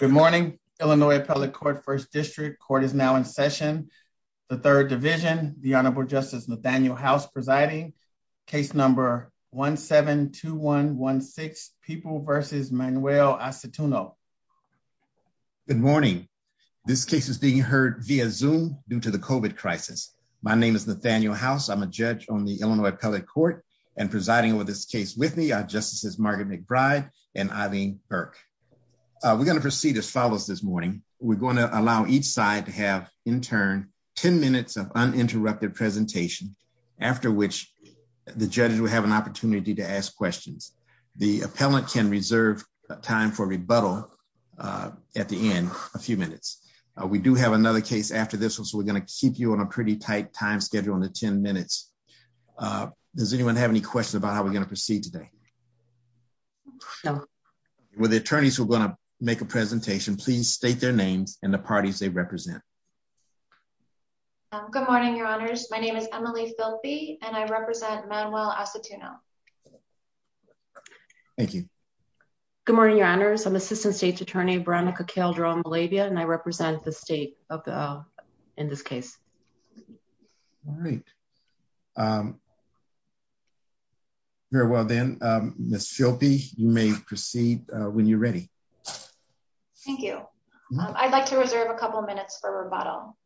Good morning, Illinois Appellate Court, 1st District. Court is now in session. The 3rd Division, the Honorable Justice Nathaniel House presiding. Case number 1-7-2-1-1-6, People v. Manuel Asituno. Good morning. This case is being heard via Zoom due to the COVID crisis. My name is Nathaniel House. I'm a judge on the Illinois Appellate Court and presiding over this case with me are Justices Margaret McBride and Eileen Burke. We're going to proceed as follows this morning. We're going to allow each side to have, in turn, 10 minutes of uninterrupted presentation, after which the judges will have an opportunity to ask questions. The appellant can reserve time for rebuttal at the end, a few minutes. We do have another case after this, so we're going to keep you on a pretty tight time schedule on the 10 minutes. Does anyone have any questions about how we're going to proceed today? No. Will the attorneys who are going to make a presentation please state their names and the parties they represent. Good morning, Your Honors. My name is Emily Filpe, and I represent Manuel Asituno. Thank you. Good morning, Your Honors. I'm Assistant State's Attorney Veronica Cahildro-Malabia, and I represent the state in this case. All right. Very well then, Ms. Filpe, you may proceed when you're ready. Thank you. I'd like to reserve a couple minutes for rebuttal.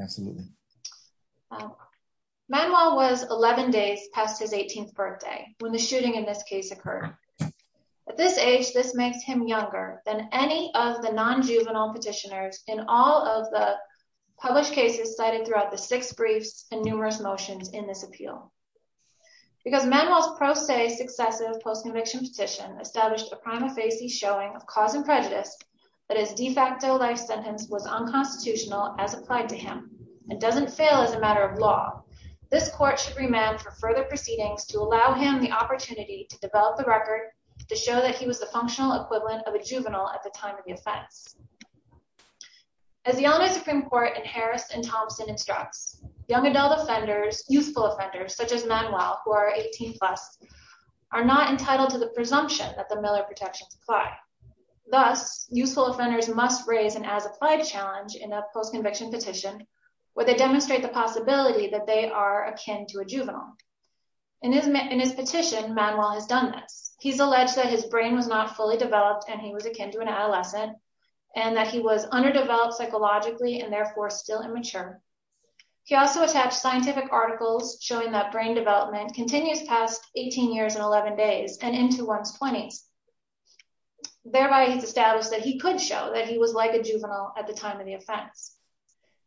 Absolutely. Manuel was 11 days past his 18th birthday when the shooting in this case occurred. At this age, this makes him younger than any of the non-juvenile petitioners in all of the published cases cited throughout the six briefs and numerous motions in this appeal. Because Manuel's pro se successive post-conviction petition established a prima facie showing of cause and prejudice that his de facto life sentence was unconstitutional as applied to him and doesn't fail as a matter of law, this court should remand for further proceedings to allow him the opportunity to develop the record to show that he was the functional equivalent of a juvenile at the time of the offense. As the Illinois Supreme Court in Harris and Thompson instructs, young adult offenders, youthful offenders such as Manuel, who are 18 plus, are not entitled to the presumption that the Miller protections apply. Thus, youthful offenders must raise an as-applied challenge in a post-conviction petition where they demonstrate the possibility that they are akin to a juvenile. In his petition, Manuel has done this. He's alleged that his brain was not fully developed and he was akin to an adolescent and that he was underdeveloped psychologically and therefore still immature. He also attached scientific articles showing that brain development continues past 18 years and 11 days and into one's 20s. Thereby, he's established that he could show that he was like a juvenile at the time of the offense.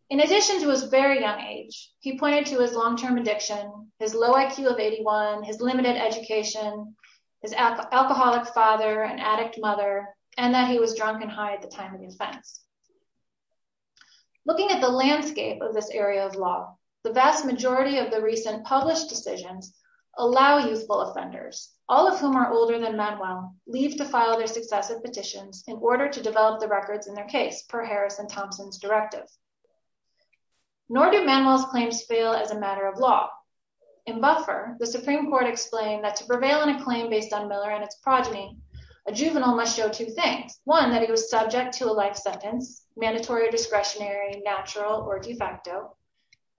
In addition to his very young age, he pointed to his long-term addiction, his low IQ of 81, his limited education, his alcoholic father and addict mother, and that he was drunk and high at the time of the offense. Looking at the landscape of this area of law, the vast majority of the recent published decisions allow youthful offenders, all of whom are older than Manuel, leave to file their successive petitions in order to develop the records in their case, per Harris and Thompson's directive. Nor do Manuel's claims fail as a matter of law. In Buffer, the Supreme Court explained that to prevail in a claim based on Miller and its progeny, a juvenile must show two things. One, that he was subject to a life sentence, mandatory or discretionary, natural or de facto.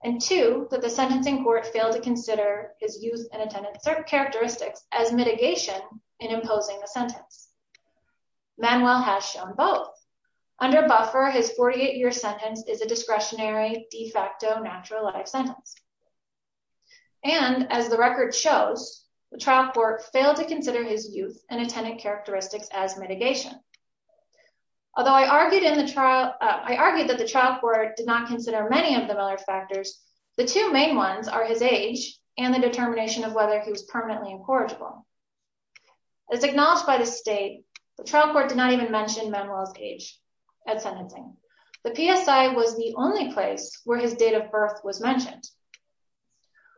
And two, that the sentencing court failed to consider his youth and attendance characteristics as mitigation in imposing the sentence. Manuel has shown both. Under Buffer, his 48-year sentence is a discretionary, de facto, natural life sentence. And, as the record shows, the trial court failed to consider his youth and attendance characteristics as mitigation. Although I argued that the trial court did not consider many of the Miller factors, the two main ones are his age and the determination of whether he was permanently incorrigible. As acknowledged by the state, the trial court did not even mention Manuel's age at sentencing. The PSI was the only place where his date of birth was mentioned.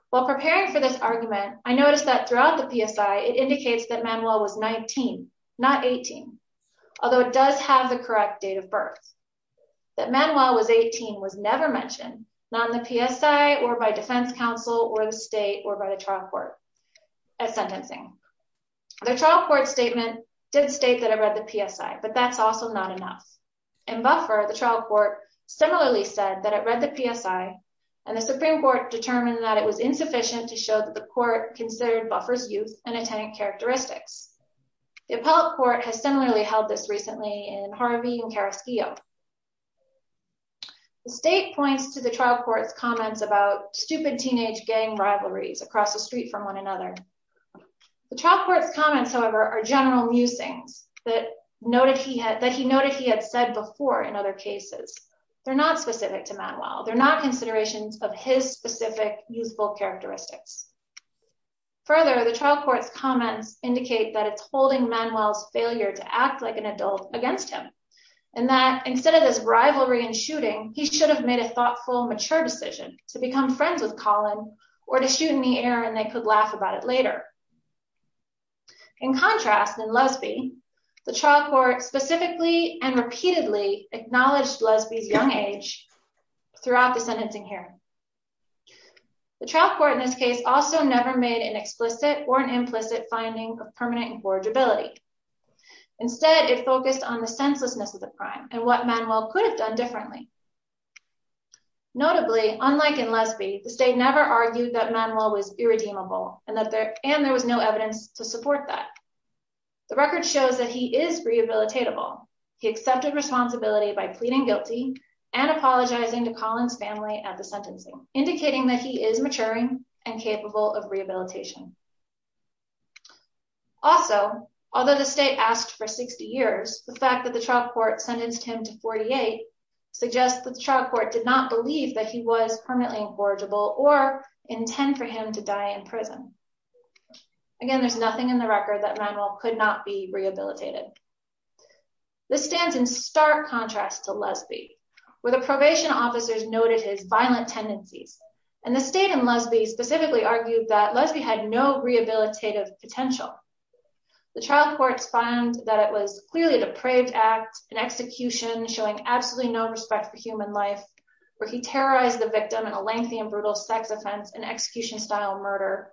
While preparing for this argument, I noticed that throughout the PSI, it indicates that Manuel was 19, not 18, although it does have the correct date of birth. That Manuel was 18 was never mentioned, not in the PSI, or by defense counsel, or the state, or by the trial court at sentencing. The trial court statement did state that it read the PSI, but that's also not enough. In Buffer, the trial court similarly said that it read the PSI, and the Supreme Court determined that it was insufficient to show that the court considered Buffer's youth and attendance characteristics. The appellate court has similarly held this recently in Harvey and Carrasquillo. The state points to the trial court's comments about stupid teenage gang rivalries across the street from one another. The trial court's comments, however, are general musings that he noted he had said before in other cases. They're not specific to Manuel. They're not considerations of his specific youthful characteristics. Further, the trial court's comments indicate that it's holding Manuel's failure to act like an adult against him, and that instead of this rivalry and shooting, he should have made a thoughtful, mature decision to become friends with Colin, or to shoot in the air and they could laugh about it later. In contrast, in Lusby, the trial court specifically and repeatedly acknowledged Lusby's young age throughout the sentencing hearing. The trial court in this case also never made an explicit or an implicit finding of permanent incorrigibility. Instead, it focused on the senselessness of the crime and what Manuel could have done differently. Notably, unlike in Lusby, the state never argued that Manuel was irredeemable, and there was no evidence to support that. The record shows that he is rehabilitatable. He accepted responsibility by pleading guilty and apologizing to Colin's family at the sentencing, indicating that he is maturing and capable of rehabilitation. Also, although the state asked for 60 years, the fact that the trial court sentenced him to 48 suggests that the trial court did not believe that he was permanently incorrigible or intend for him to die in prison. Again, there's nothing in the record that Manuel could not be rehabilitated. This stands in stark contrast to Lusby, where the probation officers noted his violent tendencies, and the state in Lusby specifically argued that Lusby had no rehabilitative potential. The trial courts find that it was clearly a depraved act, an execution showing absolutely no respect for human life, where he terrorized the victim in a lengthy and brutal sex offense and execution-style murder,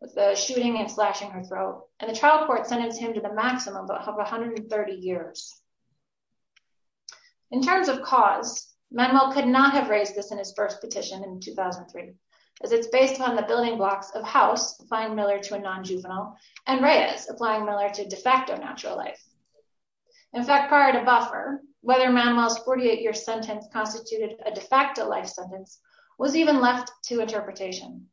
with the shooting and slashing her throat. And the trial court sentenced him to the maximum of 130 years. In terms of cause, Manuel could not have raised this in his first petition in 2003, as it's based on the building blocks of House, applying Miller to a non-juvenile, and Reyes, applying Miller to de facto natural life. In fact, prior to Buffer, whether Manuel's 48-year sentence constituted a de facto life sentence was even left to interpretation.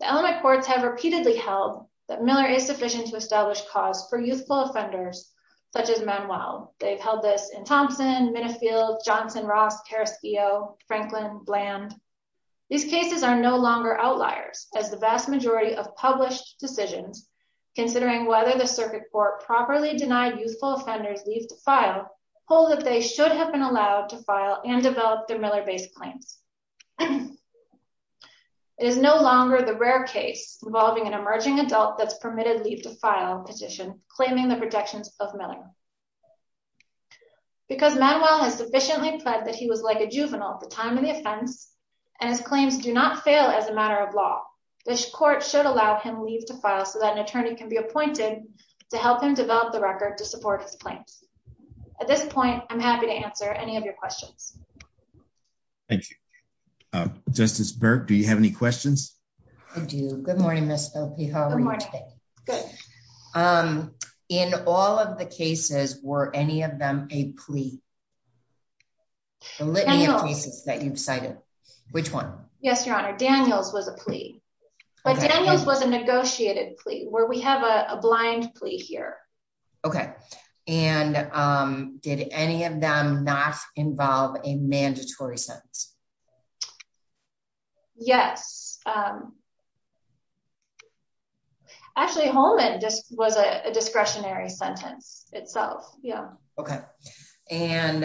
The element courts have repeatedly held that Miller is sufficient to establish cause for youthful offenders, such as Manuel. They've held this in Thompson, Minifield, Johnson, Ross, Carrasquillo, Franklin, Bland. These cases are no longer outliers, as the vast majority of published decisions, considering whether the circuit court properly denied youthful offenders leave to file, hold that they should have been allowed to file and develop their Miller-based claims. It is no longer the rare case involving an emerging adult that's permitted leave to file petition, claiming the protections of Miller. Because Manuel has sufficiently pled that he was like a juvenile at the time of the offense, and his claims do not fail as a matter of law, this court should allow him leave to file so that an attorney can be appointed to help him develop the record to support his claims. At this point, I'm happy to answer any of your questions. Thank you. Justice Burke, do you have any questions? I do. Good morning, Ms. Filipe. How are you today? Good morning. Good. In all of the cases, were any of them a plea? The litany of cases that you've cited. Which one? Yes, Your Honor. Daniels was a plea. But Daniels was a negotiated plea, where we have a blind plea here. Okay. And did any of them not involve a mandatory sentence? Yes. Actually, Holman just was a discretionary sentence itself. Yeah. Okay. And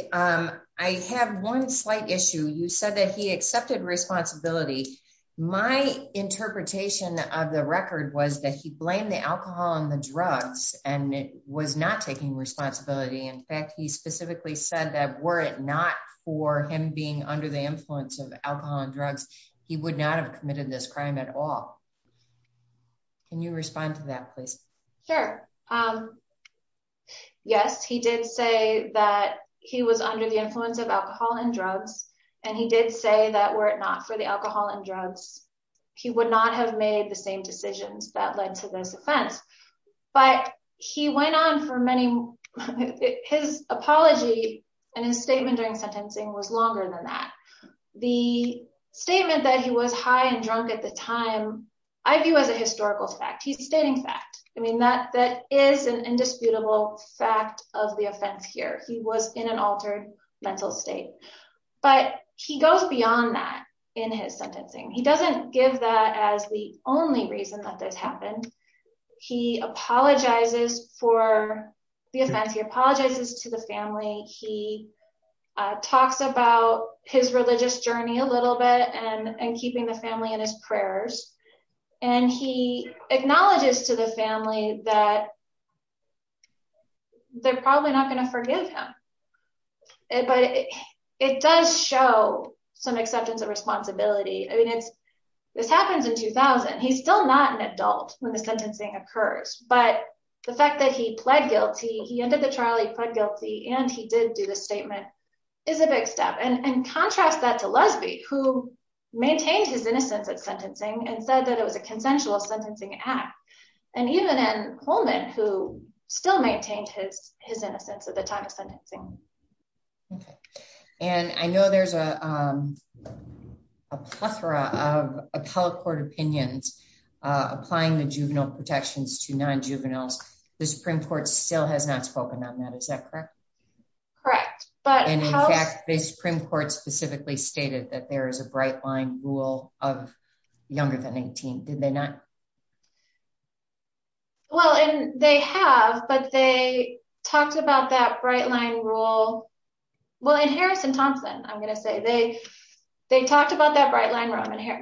I have one slight issue. You said that he accepted responsibility. My interpretation of the record was that he blamed the alcohol and the drugs and was not taking responsibility. In fact, he specifically said that were it not for him being under the influence of alcohol and drugs, he would not have committed this crime at all. Sure. Yes, he did say that he was under the influence of alcohol and drugs. And he did say that were it not for the alcohol and drugs, he would not have made the same decisions that led to this offense. But he went on for many, his apology and his statement during sentencing was longer than that. The statement that he was high and drunk at the time, I view as a historical fact. He's stating fact. I mean, that that is an indisputable fact of the offense here. He was in an altered mental state. But he goes beyond that in his sentencing. He doesn't give that as the only reason that this happened. He apologizes for the offense. He apologizes to the family. He talks about his religious journey a little bit and keeping the family in his prayers. And he acknowledges to the family that they're probably not going to forgive him. But it does show some acceptance of responsibility. I mean, this happens in 2000. He's still not an adult when the sentencing occurs. But the fact that he pled guilty, he ended the trial, he pled guilty and he did do the statement is a big step. And contrast that to Lusby, who maintained his innocence at sentencing and said that it was a consensual sentencing act. And even Coleman, who still maintained his innocence at the time of sentencing. And I know there's a plethora of appellate court opinions applying the juvenile protections to non juveniles. The Supreme Court still has not spoken on that. Is that correct? Correct. But in fact, the Supreme Court specifically stated that there is a bright line rule of younger than 18. Did they not? Well, they have, but they talked about that bright line rule. Well, in Harrison Thompson, I'm going to say they they talked about that bright line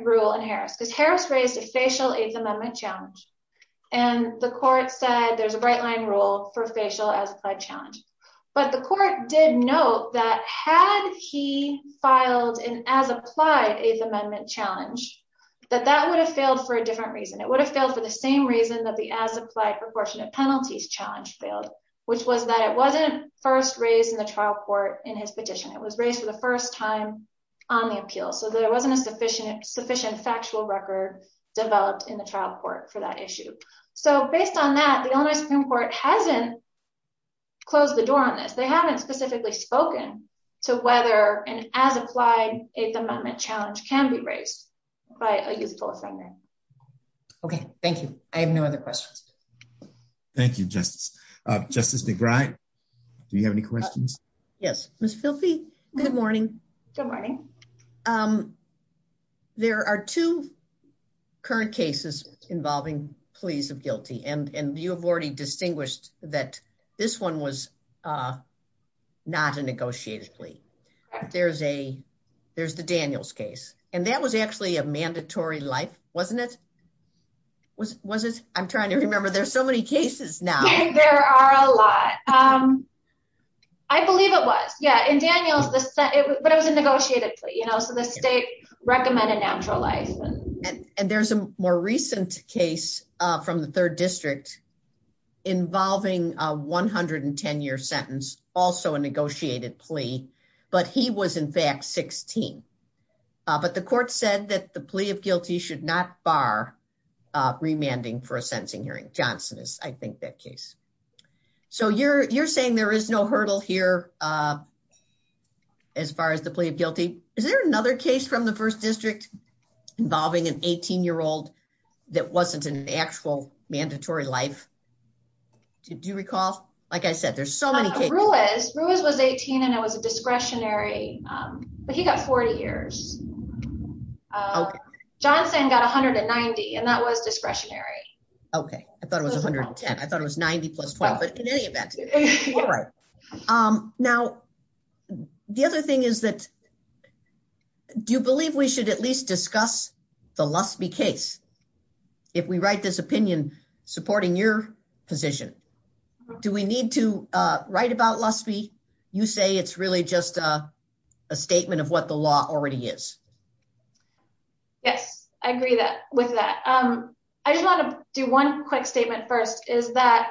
rule in Harris because Harris raised a facial eighth amendment challenge. And the court said there's a bright line rule for facial as applied challenge. But the court did note that had he filed an as applied eighth amendment challenge, that that would have failed for a different reason. It would have failed for the same reason that the as applied proportionate penalties challenge failed, which was that it wasn't first raised in the trial court in his petition. It was raised for the first time on the appeal. So there wasn't a sufficient sufficient factual record developed in the trial court for that issue. So based on that, the only Supreme Court hasn't closed the door on this. They haven't specifically spoken to whether an as applied eighth amendment challenge can be raised by a youthful offender. OK, thank you. I have no other questions. Thank you, Justice. Justice McBride, do you have any questions? Yes, Miss filthy. Good morning. Good morning. There are two current cases involving pleas of guilty and you have already distinguished that this one was not a negotiated plea. There's a there's the Daniels case, and that was actually a mandatory life, wasn't it? I'm trying to remember. There's so many cases now. There are a lot. I believe it was. Yeah. And Daniels, but it was a negotiated plea, you know, so the state recommended naturalized. And there's a more recent case from the third district involving a 110 year sentence, also a negotiated plea. But he was, in fact, 16. But the court said that the plea of guilty should not bar remanding for a sentencing hearing. Johnson is, I think, that case. So you're you're saying there is no hurdle here as far as the plea of guilty. Is there another case from the first district involving an 18 year old that wasn't an actual mandatory life? Do you recall? Like I said, there's so many Ruiz Ruiz was 18 and it was a discretionary, but he got 40 years. Johnson got one hundred and ninety and that was discretionary. OK, I thought it was one hundred and ten. I thought it was 90 plus 20. But in any event. Now, the other thing is that. Do you believe we should at least discuss the Lusby case if we write this opinion supporting your position? Do we need to write about Lusby? You say it's really just a statement of what the law already is. Yes, I agree that with that, I just want to do one quick statement first, is that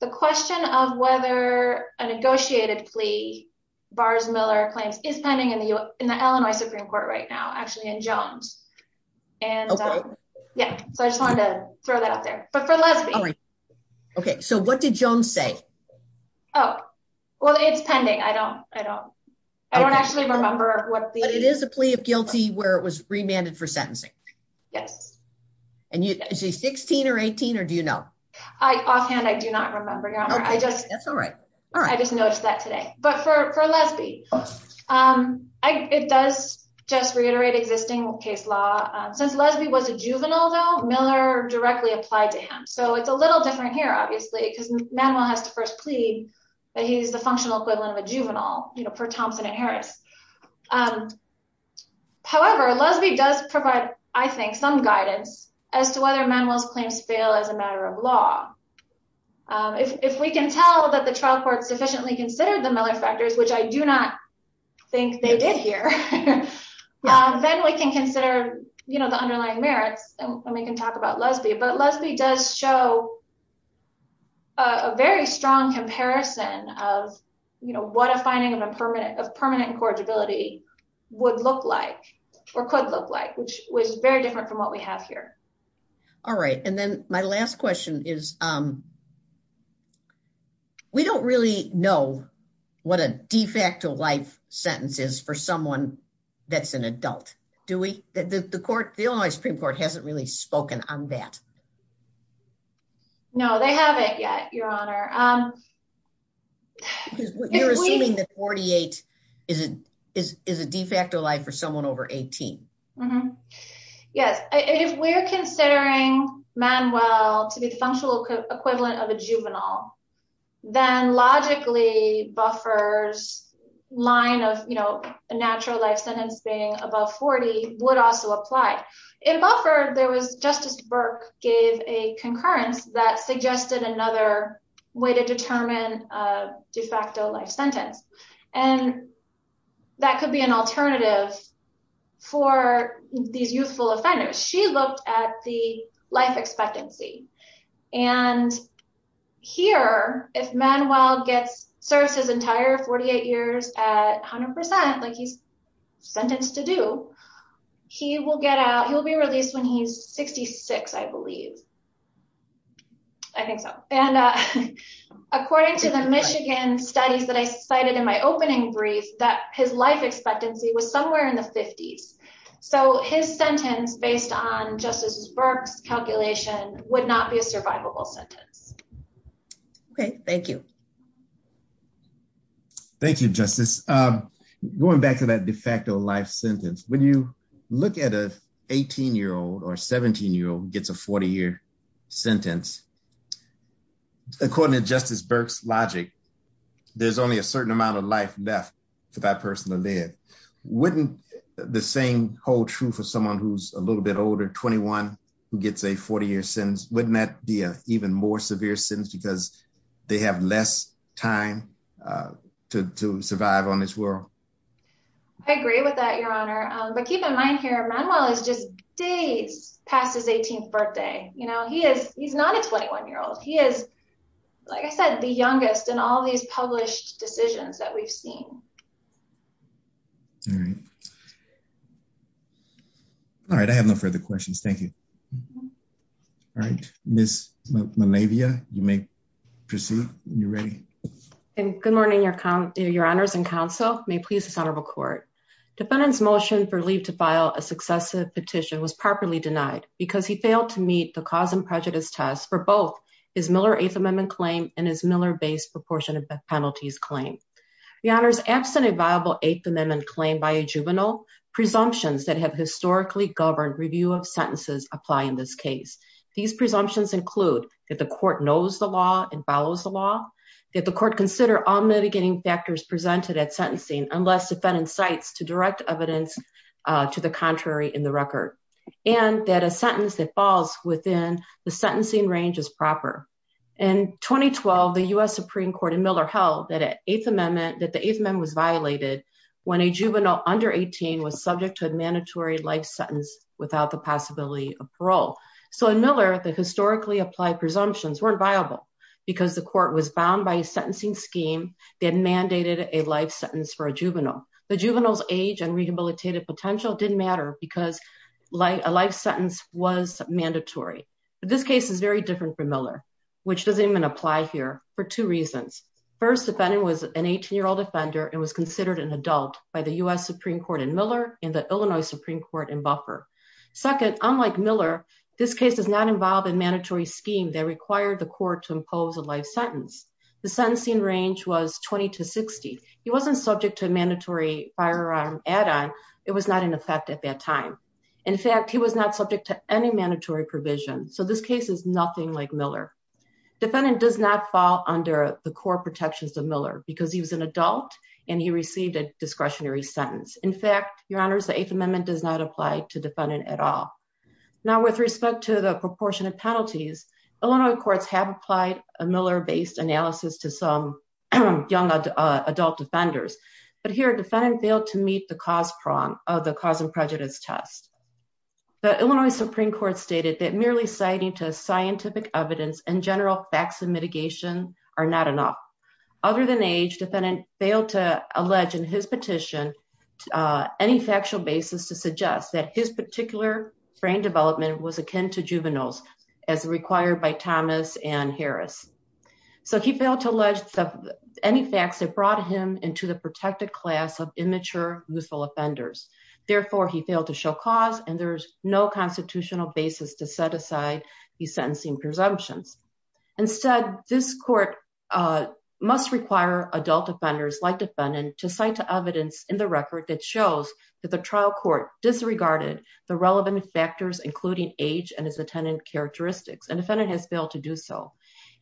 the question of whether a negotiated plea bars Miller claims is pending in the in the Illinois Supreme Court right now, actually in Jones. And yeah, so I just wanted to throw that out there, but for Lusby. OK, so what did Jones say? Oh, well, it's pending. I don't I don't I don't actually remember what it is, a plea of guilty where it was remanded for sentencing. Yes. And you say 16 or 18 or do, you know, I often I do not remember. I just that's all right. I just noticed that today. But for Lusby, it does just reiterate existing case law. Since Lusby was a juvenile, though, Miller directly applied to him. So it's a little different here, obviously, because Manuel has to first plead that he's the functional equivalent of a juvenile per Thompson and Harris. However, Lusby does provide, I think, some guidance as to whether Manuel's claims fail as a matter of law. If we can tell that the trial court sufficiently considered the Miller factors, which I do not think they did here, then we can consider, you know, the underlying merits and we can talk about Lusby. But Lusby does show. A very strong comparison of, you know, what a finding of a permanent of permanent incorrigibility would look like or could look like, which was very different from what we have here. All right. And then my last question is, we don't really know what a de facto life sentences for someone that's an adult. Do we? The court, the only Supreme Court hasn't really spoken on that. No, they haven't yet, Your Honor. You're assuming that 48 is a de facto life for someone over 18. Yes, if we're considering Manuel to be the functional equivalent of a juvenile, then logically buffers line of, you know, a natural life sentence being above 40 would also apply. In Buffer, there was Justice Burke gave a concurrence that suggested another way to determine a de facto life sentence. And that could be an alternative for these youthful offenders. She looked at the life expectancy. And here, if Manuel gets serves his entire 48 years at 100%, like he's sentenced to do, he will get out, he will be released when he's 66, I believe. I think so. And according to the Michigan studies that I cited in my opening brief that his life expectancy was somewhere in the 50s. So his sentence based on Justice Burke's calculation would not be a survivable sentence. Okay, thank you. Thank you, Justice. Going back to that de facto life sentence, when you look at a 18 year old or 17 year old gets a 40 year sentence. According to Justice Burke's logic, there's only a certain amount of life left for that person to live. Wouldn't the same hold true for someone who's a little bit older, 21, who gets a 40 year sentence? Wouldn't that be an even more severe sentence because they have less time to survive on this world? I agree with that, Your Honor. But keep in mind here, Manuel is just days past his 18th birthday. You know, he is, he's not a 21 year old. He is, like I said, the youngest in all these published decisions that we've seen. All right. All right, I have no further questions. Thank you. All right, Ms. Malavia, you may proceed when you're ready. Good morning, Your Honors and Counsel. May it please the Senate of the Court. Defendant's motion for leave to file a successive petition was properly denied because he failed to meet the cause and prejudice test for both his Miller Eighth Amendment claim and his Miller-based proportionate penalties claim. Your Honors, absent a viable Eighth Amendment claim by a juvenile, presumptions that have historically governed review of sentences apply in this case. These presumptions include that the court knows the law and follows the law, that the court consider all mitigating factors presented at sentencing unless defendant cites to direct evidence to the contrary in the record, and that a sentence that falls within the sentencing range is proper. In 2012, the U.S. Supreme Court in Miller held that the Eighth Amendment was violated when a juvenile under 18 was subject to a mandatory life sentence without the possibility of parole. So in Miller, the historically applied presumptions weren't viable because the court was bound by a sentencing scheme that mandated a life sentence for a juvenile. The juvenile's age and rehabilitative potential didn't matter because a life sentence was mandatory. But this case is very different from Miller, which doesn't even apply here for two reasons. First, defendant was an 18-year-old offender and was considered an adult by the U.S. Supreme Court in Miller and the Illinois Supreme Court in Buffer. Second, unlike Miller, this case does not involve a mandatory scheme that required the court to impose a life sentence. The sentencing range was 20 to 60. He wasn't subject to a mandatory firearm add-on. It was not in effect at that time. In fact, he was not subject to any mandatory provision. So this case is nothing like Miller. Defendant does not fall under the core protections of Miller because he was an adult and he received a discretionary sentence. In fact, your honors, the Eighth Amendment does not apply to defendant at all. Now, with respect to the proportionate penalties, Illinois courts have applied a Miller-based analysis to some young adult defenders. But here, defendant failed to meet the cause prong of the cause and prejudice test. The Illinois Supreme Court stated that merely citing scientific evidence and general facts of mitigation are not enough. Other than age, defendant failed to allege in his petition any factual basis to suggest that his particular brain development was akin to juveniles as required by Thomas and Harris. So he failed to allege any facts that brought him into the protected class of immature, youthful offenders. Therefore, he failed to show cause and there's no constitutional basis to set aside his sentencing presumptions. Instead, this court must require adult defenders like defendant to cite evidence in the record that shows that the trial court disregarded the relevant factors, including age and his attendant characteristics. And defendant has failed to do so.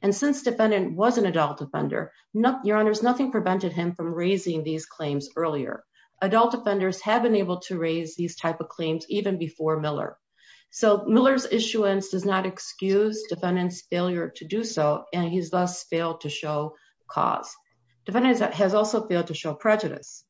And since defendant was an adult defender, your honors, nothing prevented him from raising these claims earlier. Adult defenders have been able to raise these type of claims even before Miller. So Miller's issuance does not excuse defendant's failure to do so, and he's thus failed to show cause. Defendant has also failed to show prejudice.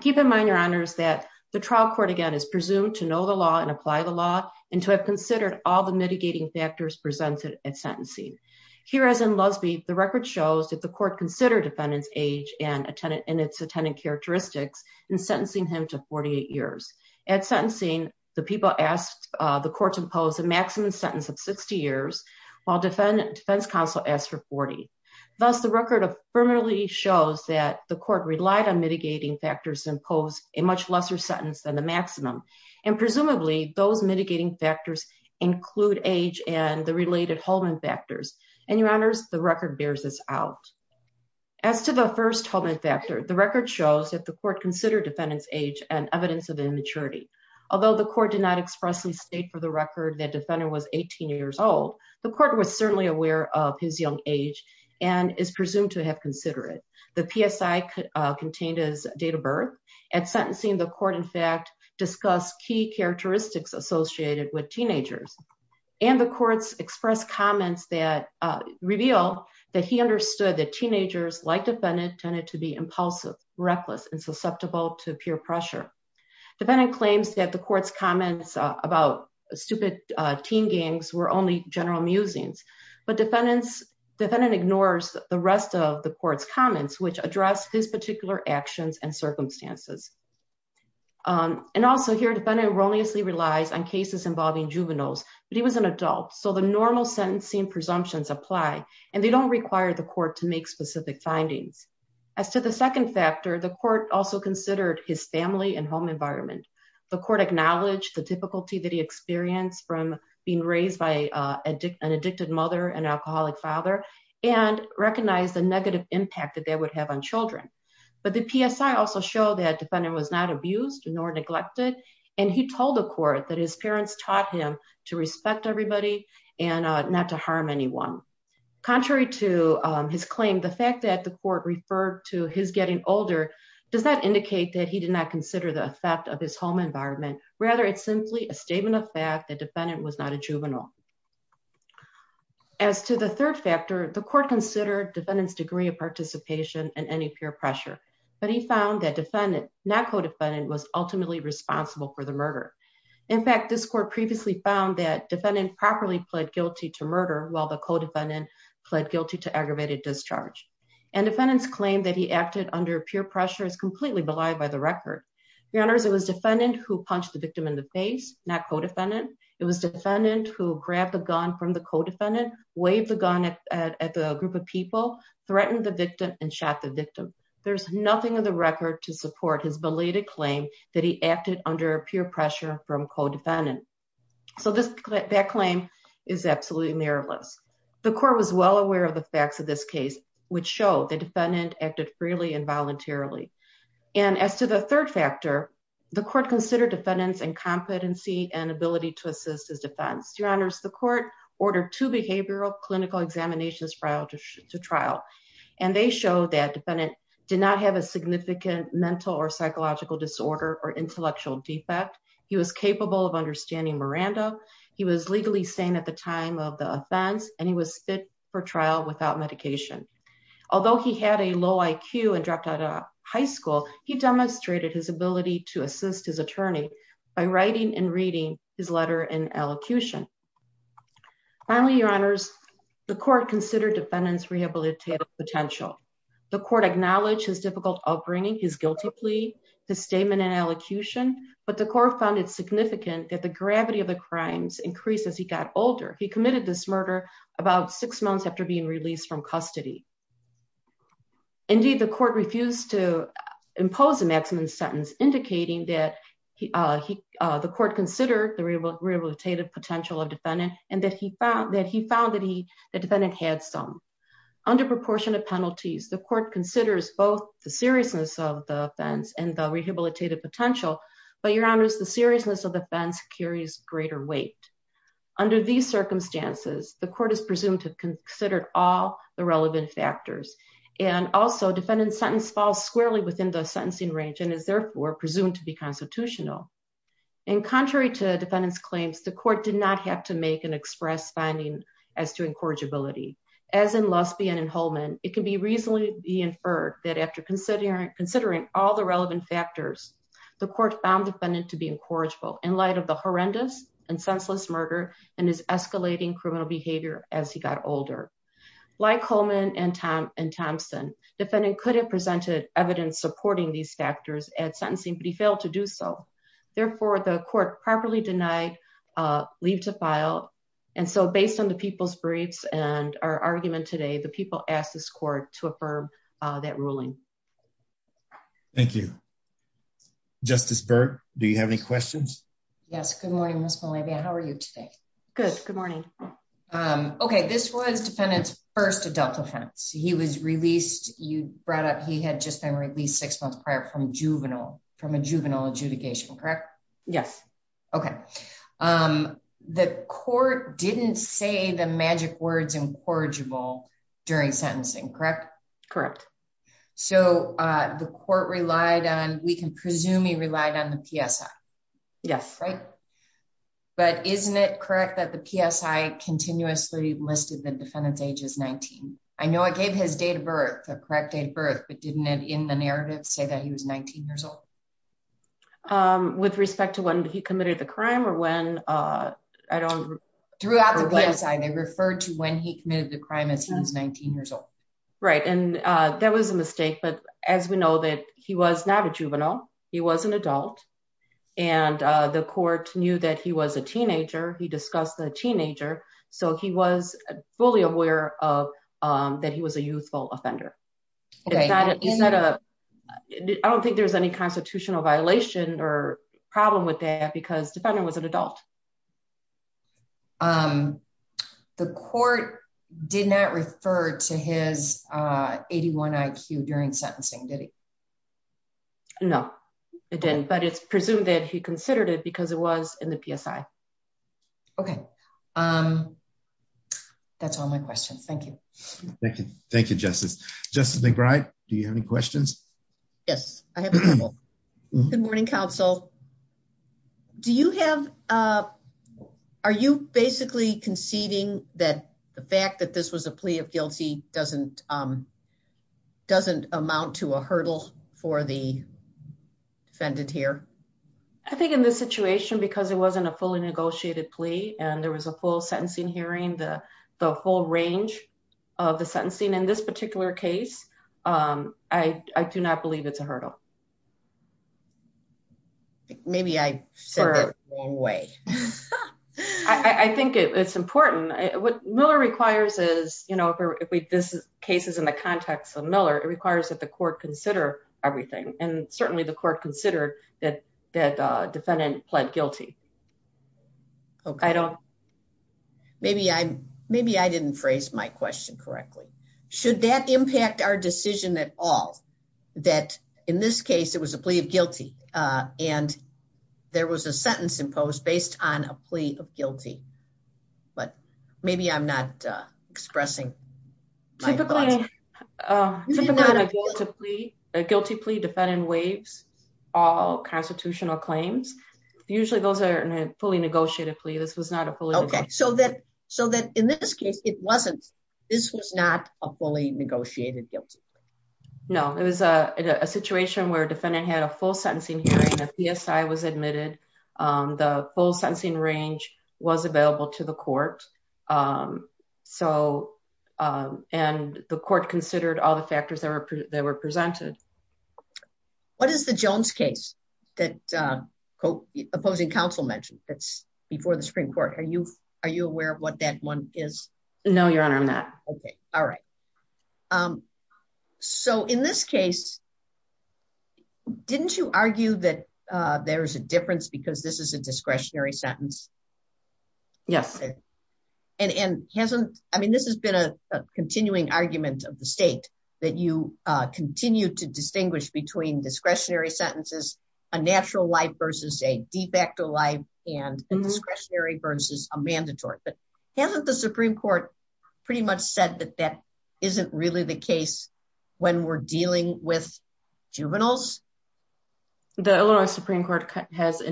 Keep in mind, your honors, that the trial court, again, is presumed to know the law and apply the law and to have considered all the mitigating factors presented at sentencing. Here, as in Lusby, the record shows that the court considered defendant's age and its attendant characteristics in sentencing him to 48 years. At sentencing, the people asked the court to impose a maximum sentence of 60 years, while defense counsel asked for 40. Thus, the record affirmatively shows that the court relied on mitigating factors imposed a much lesser sentence than the maximum. And presumably, those mitigating factors include age and the related Holman factors. And your honors, the record bears this out. As to the first Holman factor, the record shows that the court considered defendant's age and evidence of immaturity. Although the court did not expressly state for the record that defendant was 18 years old, the court was certainly aware of his young age and is presumed to have considered it. The PSI contained his date of birth. At sentencing, the court, in fact, discussed key characteristics associated with teenagers. And the courts expressed comments that reveal that he understood that teenagers, like defendant, tended to be impulsive, reckless, and susceptible to peer pressure. Defendant claims that the court's comments about stupid teen games were only general musings. But defendant ignores the rest of the court's comments, which address his particular actions and circumstances. And also here, defendant erroneously relies on cases involving juveniles, but he was an adult. So the normal sentencing presumptions apply, and they don't require the court to make specific findings. As to the second factor, the court also considered his family and home environment. The court acknowledged the difficulty that he experienced from being raised by an addicted mother and alcoholic father, and recognized the negative impact that that would have on children. But the PSI also showed that defendant was not abused nor neglected, and he told the court that his parents taught him to respect everybody and not to harm anyone. Contrary to his claim, the fact that the court referred to his getting older does not indicate that he did not consider the effect of his home environment. Rather, it's simply a statement of fact that defendant was not a juvenile. As to the third factor, the court considered defendant's degree of participation in any peer pressure, but he found that defendant, not co-defendant, was ultimately responsible for the murder. In fact, this court previously found that defendant properly pled guilty to murder, while the co-defendant pled guilty to aggravated discharge. And defendant's claim that he acted under peer pressure is completely belied by the record. Your honors, it was defendant who punched the victim in the face, not co-defendant. It was defendant who grabbed the gun from the co-defendant, waved the gun at the group of people, threatened the victim, and shot the victim. There's nothing in the record to support his belated claim that he acted under peer pressure from co-defendant. So that claim is absolutely mirrorless. The court was well aware of the facts of this case, which show the defendant acted freely and voluntarily. And as to the third factor, the court considered defendant's incompetency and ability to assist his defense. Your honors, the court ordered two behavioral clinical examinations prior to trial. And they show that defendant did not have a significant mental or psychological disorder or intellectual defect. He was capable of understanding Miranda. He was legally sane at the time of the offense, and he was fit for trial without medication. Although he had a low IQ and dropped out of high school, he demonstrated his ability to assist his attorney by writing and reading his letter in elocution. Finally, your honors, the court considered defendant's rehabilitative potential. The court acknowledged his difficult upbringing, his guilty plea, his statement in elocution. But the court found it significant that the gravity of the crimes increased as he got older. He committed this murder about six months after being released from custody. Indeed, the court refused to impose a maximum sentence, indicating that the court considered the rehabilitative potential of defendant and that he found that the defendant had some. Under proportionate penalties, the court considers both the seriousness of the offense and the rehabilitative potential. But your honors, the seriousness of the offense carries greater weight. Under these circumstances, the court is presumed to have considered all the relevant factors. And also, defendant's sentence falls squarely within the sentencing range and is therefore presumed to be constitutional. And contrary to defendant's claims, the court did not have to make an express finding as to incorrigibility. As in Lusby and in Holman, it can be reasonably inferred that after considering all the relevant factors, the court found defendant to be incorrigible. In light of the horrendous and senseless murder and his escalating criminal behavior as he got older. Like Holman and Thompson, defendant could have presented evidence supporting these factors at sentencing, but he failed to do so. Therefore, the court properly denied leave to file. And so based on the people's briefs and our argument today, the people asked this court to affirm that ruling. Thank you. Justice Burke, do you have any questions? Yes. Good morning, Ms. Malavia. How are you today? Good. Good morning. Okay. This was defendant's first adult offense. He was released. You brought up he had just been released six months prior from juvenile, from a juvenile adjudication, correct? Yes. Okay. The court didn't say the magic words incorrigible during sentencing, correct? Correct. So the court relied on, we can presume he relied on the PSI. Yes. But isn't it correct that the PSI continuously listed the defendant's age as 19? I know it gave his date of birth, the correct date of birth, but didn't it in the narrative say that he was 19 years old? With respect to when he committed the crime or when? Throughout the PSI, they referred to when he committed the crime as he was 19 years old. Right. And that was a mistake. But as we know that he was not a juvenile, he was an adult. And the court knew that he was a teenager. He discussed the teenager. So he was fully aware that he was a youthful offender. Okay. I don't think there's any constitutional violation or problem with that because the defendant was an adult. The court did not refer to his 81 IQ during sentencing, did it? No, it didn't. But it's presumed that he considered it because it was in the PSI. Okay. That's all my questions. Thank you. Thank you. Thank you, Justice. Justice McBride, do you have any questions? Yes, I have a couple. Good morning, counsel. Are you basically conceding that the fact that this was a plea of guilty doesn't amount to a hurdle for the defendant here? I think in this situation, because it wasn't a fully negotiated plea and there was a full sentencing hearing, the whole range of the sentencing in this particular case, I do not believe it's a hurdle. Maybe I said that the wrong way. I think it's important. What Miller requires is, you know, if this case is in the context of Miller, it requires that the court consider everything. And certainly the court considered that the defendant pled guilty. Okay. Maybe I didn't phrase my question correctly. Should that impact our decision at all? That in this case, it was a plea of guilty and there was a sentence imposed based on a plea of guilty. But maybe I'm not expressing my thoughts. Typically a guilty plea, defendant waives all constitutional claims. Usually those are fully negotiated plea. This was not a fully negotiated plea. So that in this case, it wasn't. This was not a fully negotiated guilty plea. No, it was a situation where defendant had a full sentencing hearing, a PSI was admitted, the full sentencing range was available to the court. And the court considered all the factors that were presented. What is the Jones case that opposing counsel mentioned that's before the Supreme Court? Are you aware of what that one is? No, Your Honor, I'm not. Okay. All right. So in this case, didn't you argue that there's a difference because this is a discretionary sentence? Yes. And hasn't, I mean, this has been a continuing argument of the state that you continue to distinguish between discretionary sentences, a natural life versus a de facto life and discretionary versus a mandatory. But hasn't the Supreme Court pretty much said that that isn't really the case when we're dealing with juveniles? The Illinois Supreme Court has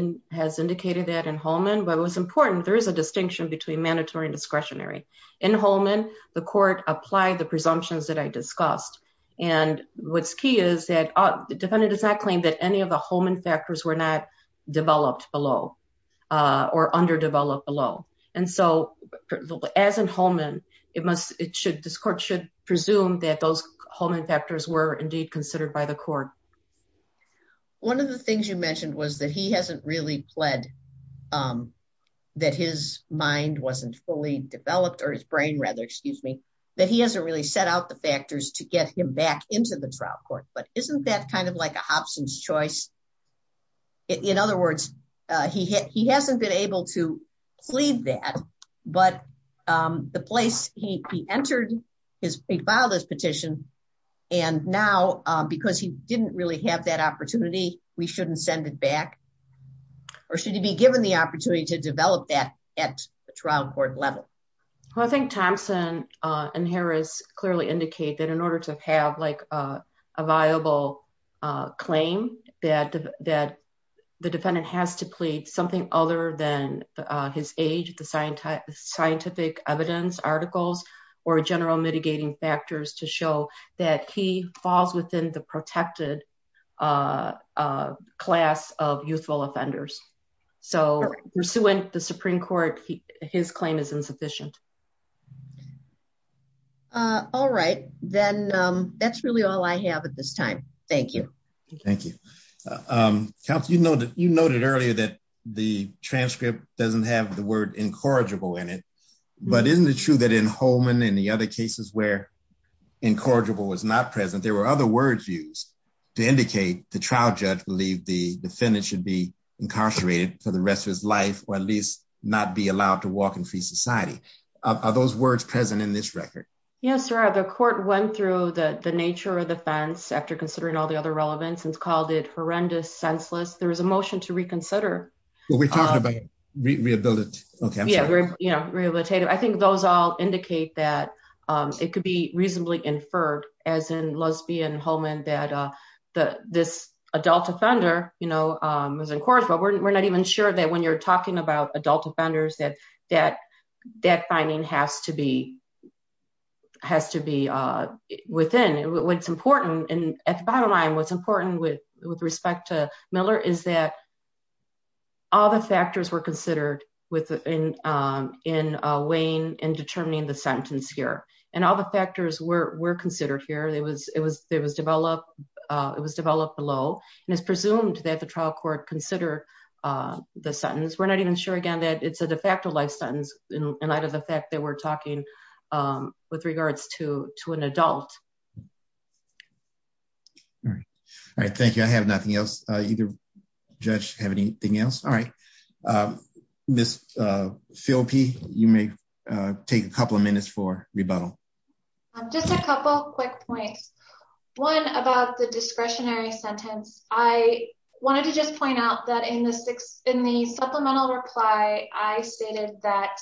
indicated that in Holman, but what's important, there is a distinction between mandatory and discretionary. In Holman, the court applied the presumptions that I discussed. And what's key is that the defendant does not claim that any of the Holman factors were not developed below or underdeveloped below. And so as in Holman, this court should presume that those Holman factors were indeed considered by the court. One of the things you mentioned was that he hasn't really pled that his mind wasn't fully developed or his brain rather, excuse me, that he hasn't really set out the factors to get him back into the trial court. But isn't that kind of like a Hobson's choice? In other words, he hasn't been able to plead that, but the place he entered, he filed his petition. And now, because he didn't really have that opportunity, we shouldn't send it back? Or should he be given the opportunity to develop that at the trial court level? Well, I think Thompson and Harris clearly indicate that in order to have like a viable claim that the defendant has to plead something other than his age, the scientific evidence articles or general mitigating factors to show that he falls within the protected class of youthful offenders. So pursuant the Supreme Court, his claim is insufficient. All right, then that's really all I have at this time. Thank you. Thank you. You noted earlier that the transcript doesn't have the word incorrigible in it. But isn't it true that in Holman and the other cases where incorrigible was not present, there were other words used to indicate the trial judge believed the defendant should be incarcerated for the rest of his life, or at least not be allowed to walk in free society. Are those words present in this record? Yes, sir. The court went through the nature of the offense after considering all the other relevance and called it horrendous, senseless. There was a motion to reconsider. We're talking about rehabilitative. Rehabilitative. I think those all indicate that it could be reasonably inferred, as in Lusby and Holman, that this adult offender was incorrigible. We're not even sure that when you're talking about adult offenders that that finding has to be within. At the bottom line, what's important with respect to Miller is that all the factors were considered in weighing and determining the sentence here. And all the factors were considered here. It was developed below and it's presumed that the trial court considered the sentence. We're not even sure again that it's a de facto life sentence in light of the fact that we're talking with regards to an adult. All right. All right. Thank you. I have nothing else. Either judge have anything else. All right. Miss Phil P, you may take a couple of minutes for rebuttal. Just a couple quick points. One about the discretionary sentence. I wanted to just point out that in the supplemental reply, I stated that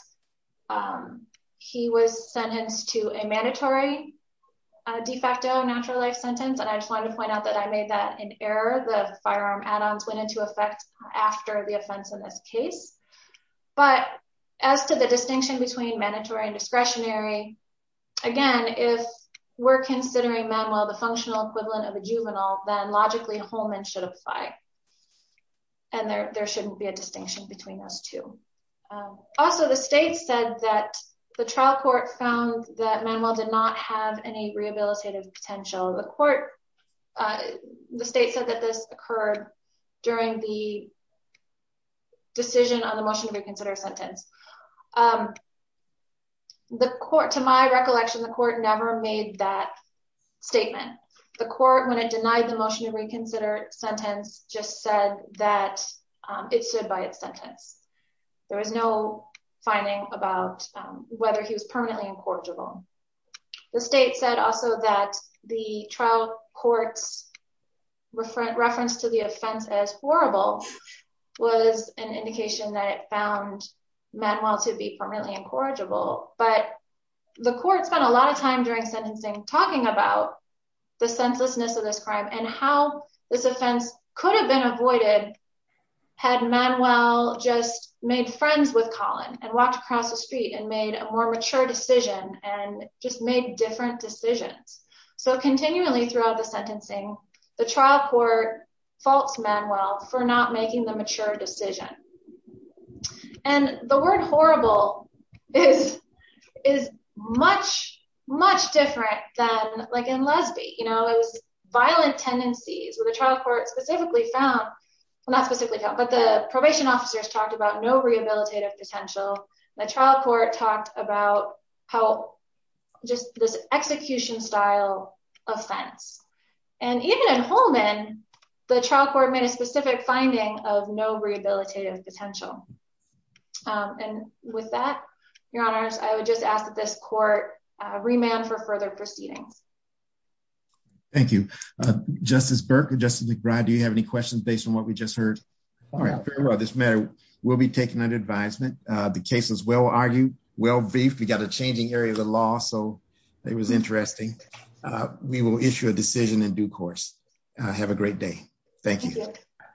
he was sentenced to a mandatory de facto natural life sentence. And I just wanted to point out that I made that in error. The firearm add-ons went into effect after the offense in this case. But as to the distinction between mandatory and discretionary, again, if we're considering Manuel the functional equivalent of a juvenile, then logically Holman should apply. And there shouldn't be a distinction between those two. Also, the state said that the trial court found that Manuel did not have any rehabilitative potential. The state said that this occurred during the decision on the motion to reconsider sentence. To my recollection, the court never made that statement. The court, when it denied the motion to reconsider sentence, just said that it stood by its sentence. There was no finding about whether he was permanently incorrigible. The state said also that the trial court's reference to the offense as horrible was an indication that it found Manuel to be permanently incorrigible. But the court spent a lot of time during sentencing talking about the senselessness of this crime and how this offense could have been avoided had Manuel just made friends with Colin and walked across the street and made a more mature decision and just made different decisions. So continually throughout the sentencing, the trial court faults Manuel for not making the mature decision. And the word horrible is much, much different than like in lesbian, you know, it was violent tendencies with a trial court specifically found Not specifically found, but the probation officers talked about no rehabilitative potential. The trial court talked about how Just this execution style offense and even in Holman, the trial court made a specific finding of no rehabilitative potential. And with that, Your Honors, I would just ask that this court remand for further proceedings. Thank you, Justice Burke and Justice McBride, do you have any questions based on what we just heard? This matter will be taken under advisement. The case is well argued, well briefed. We got a changing area of the law. So it was interesting. We will issue a decision in due course. Have a great day. Thank you.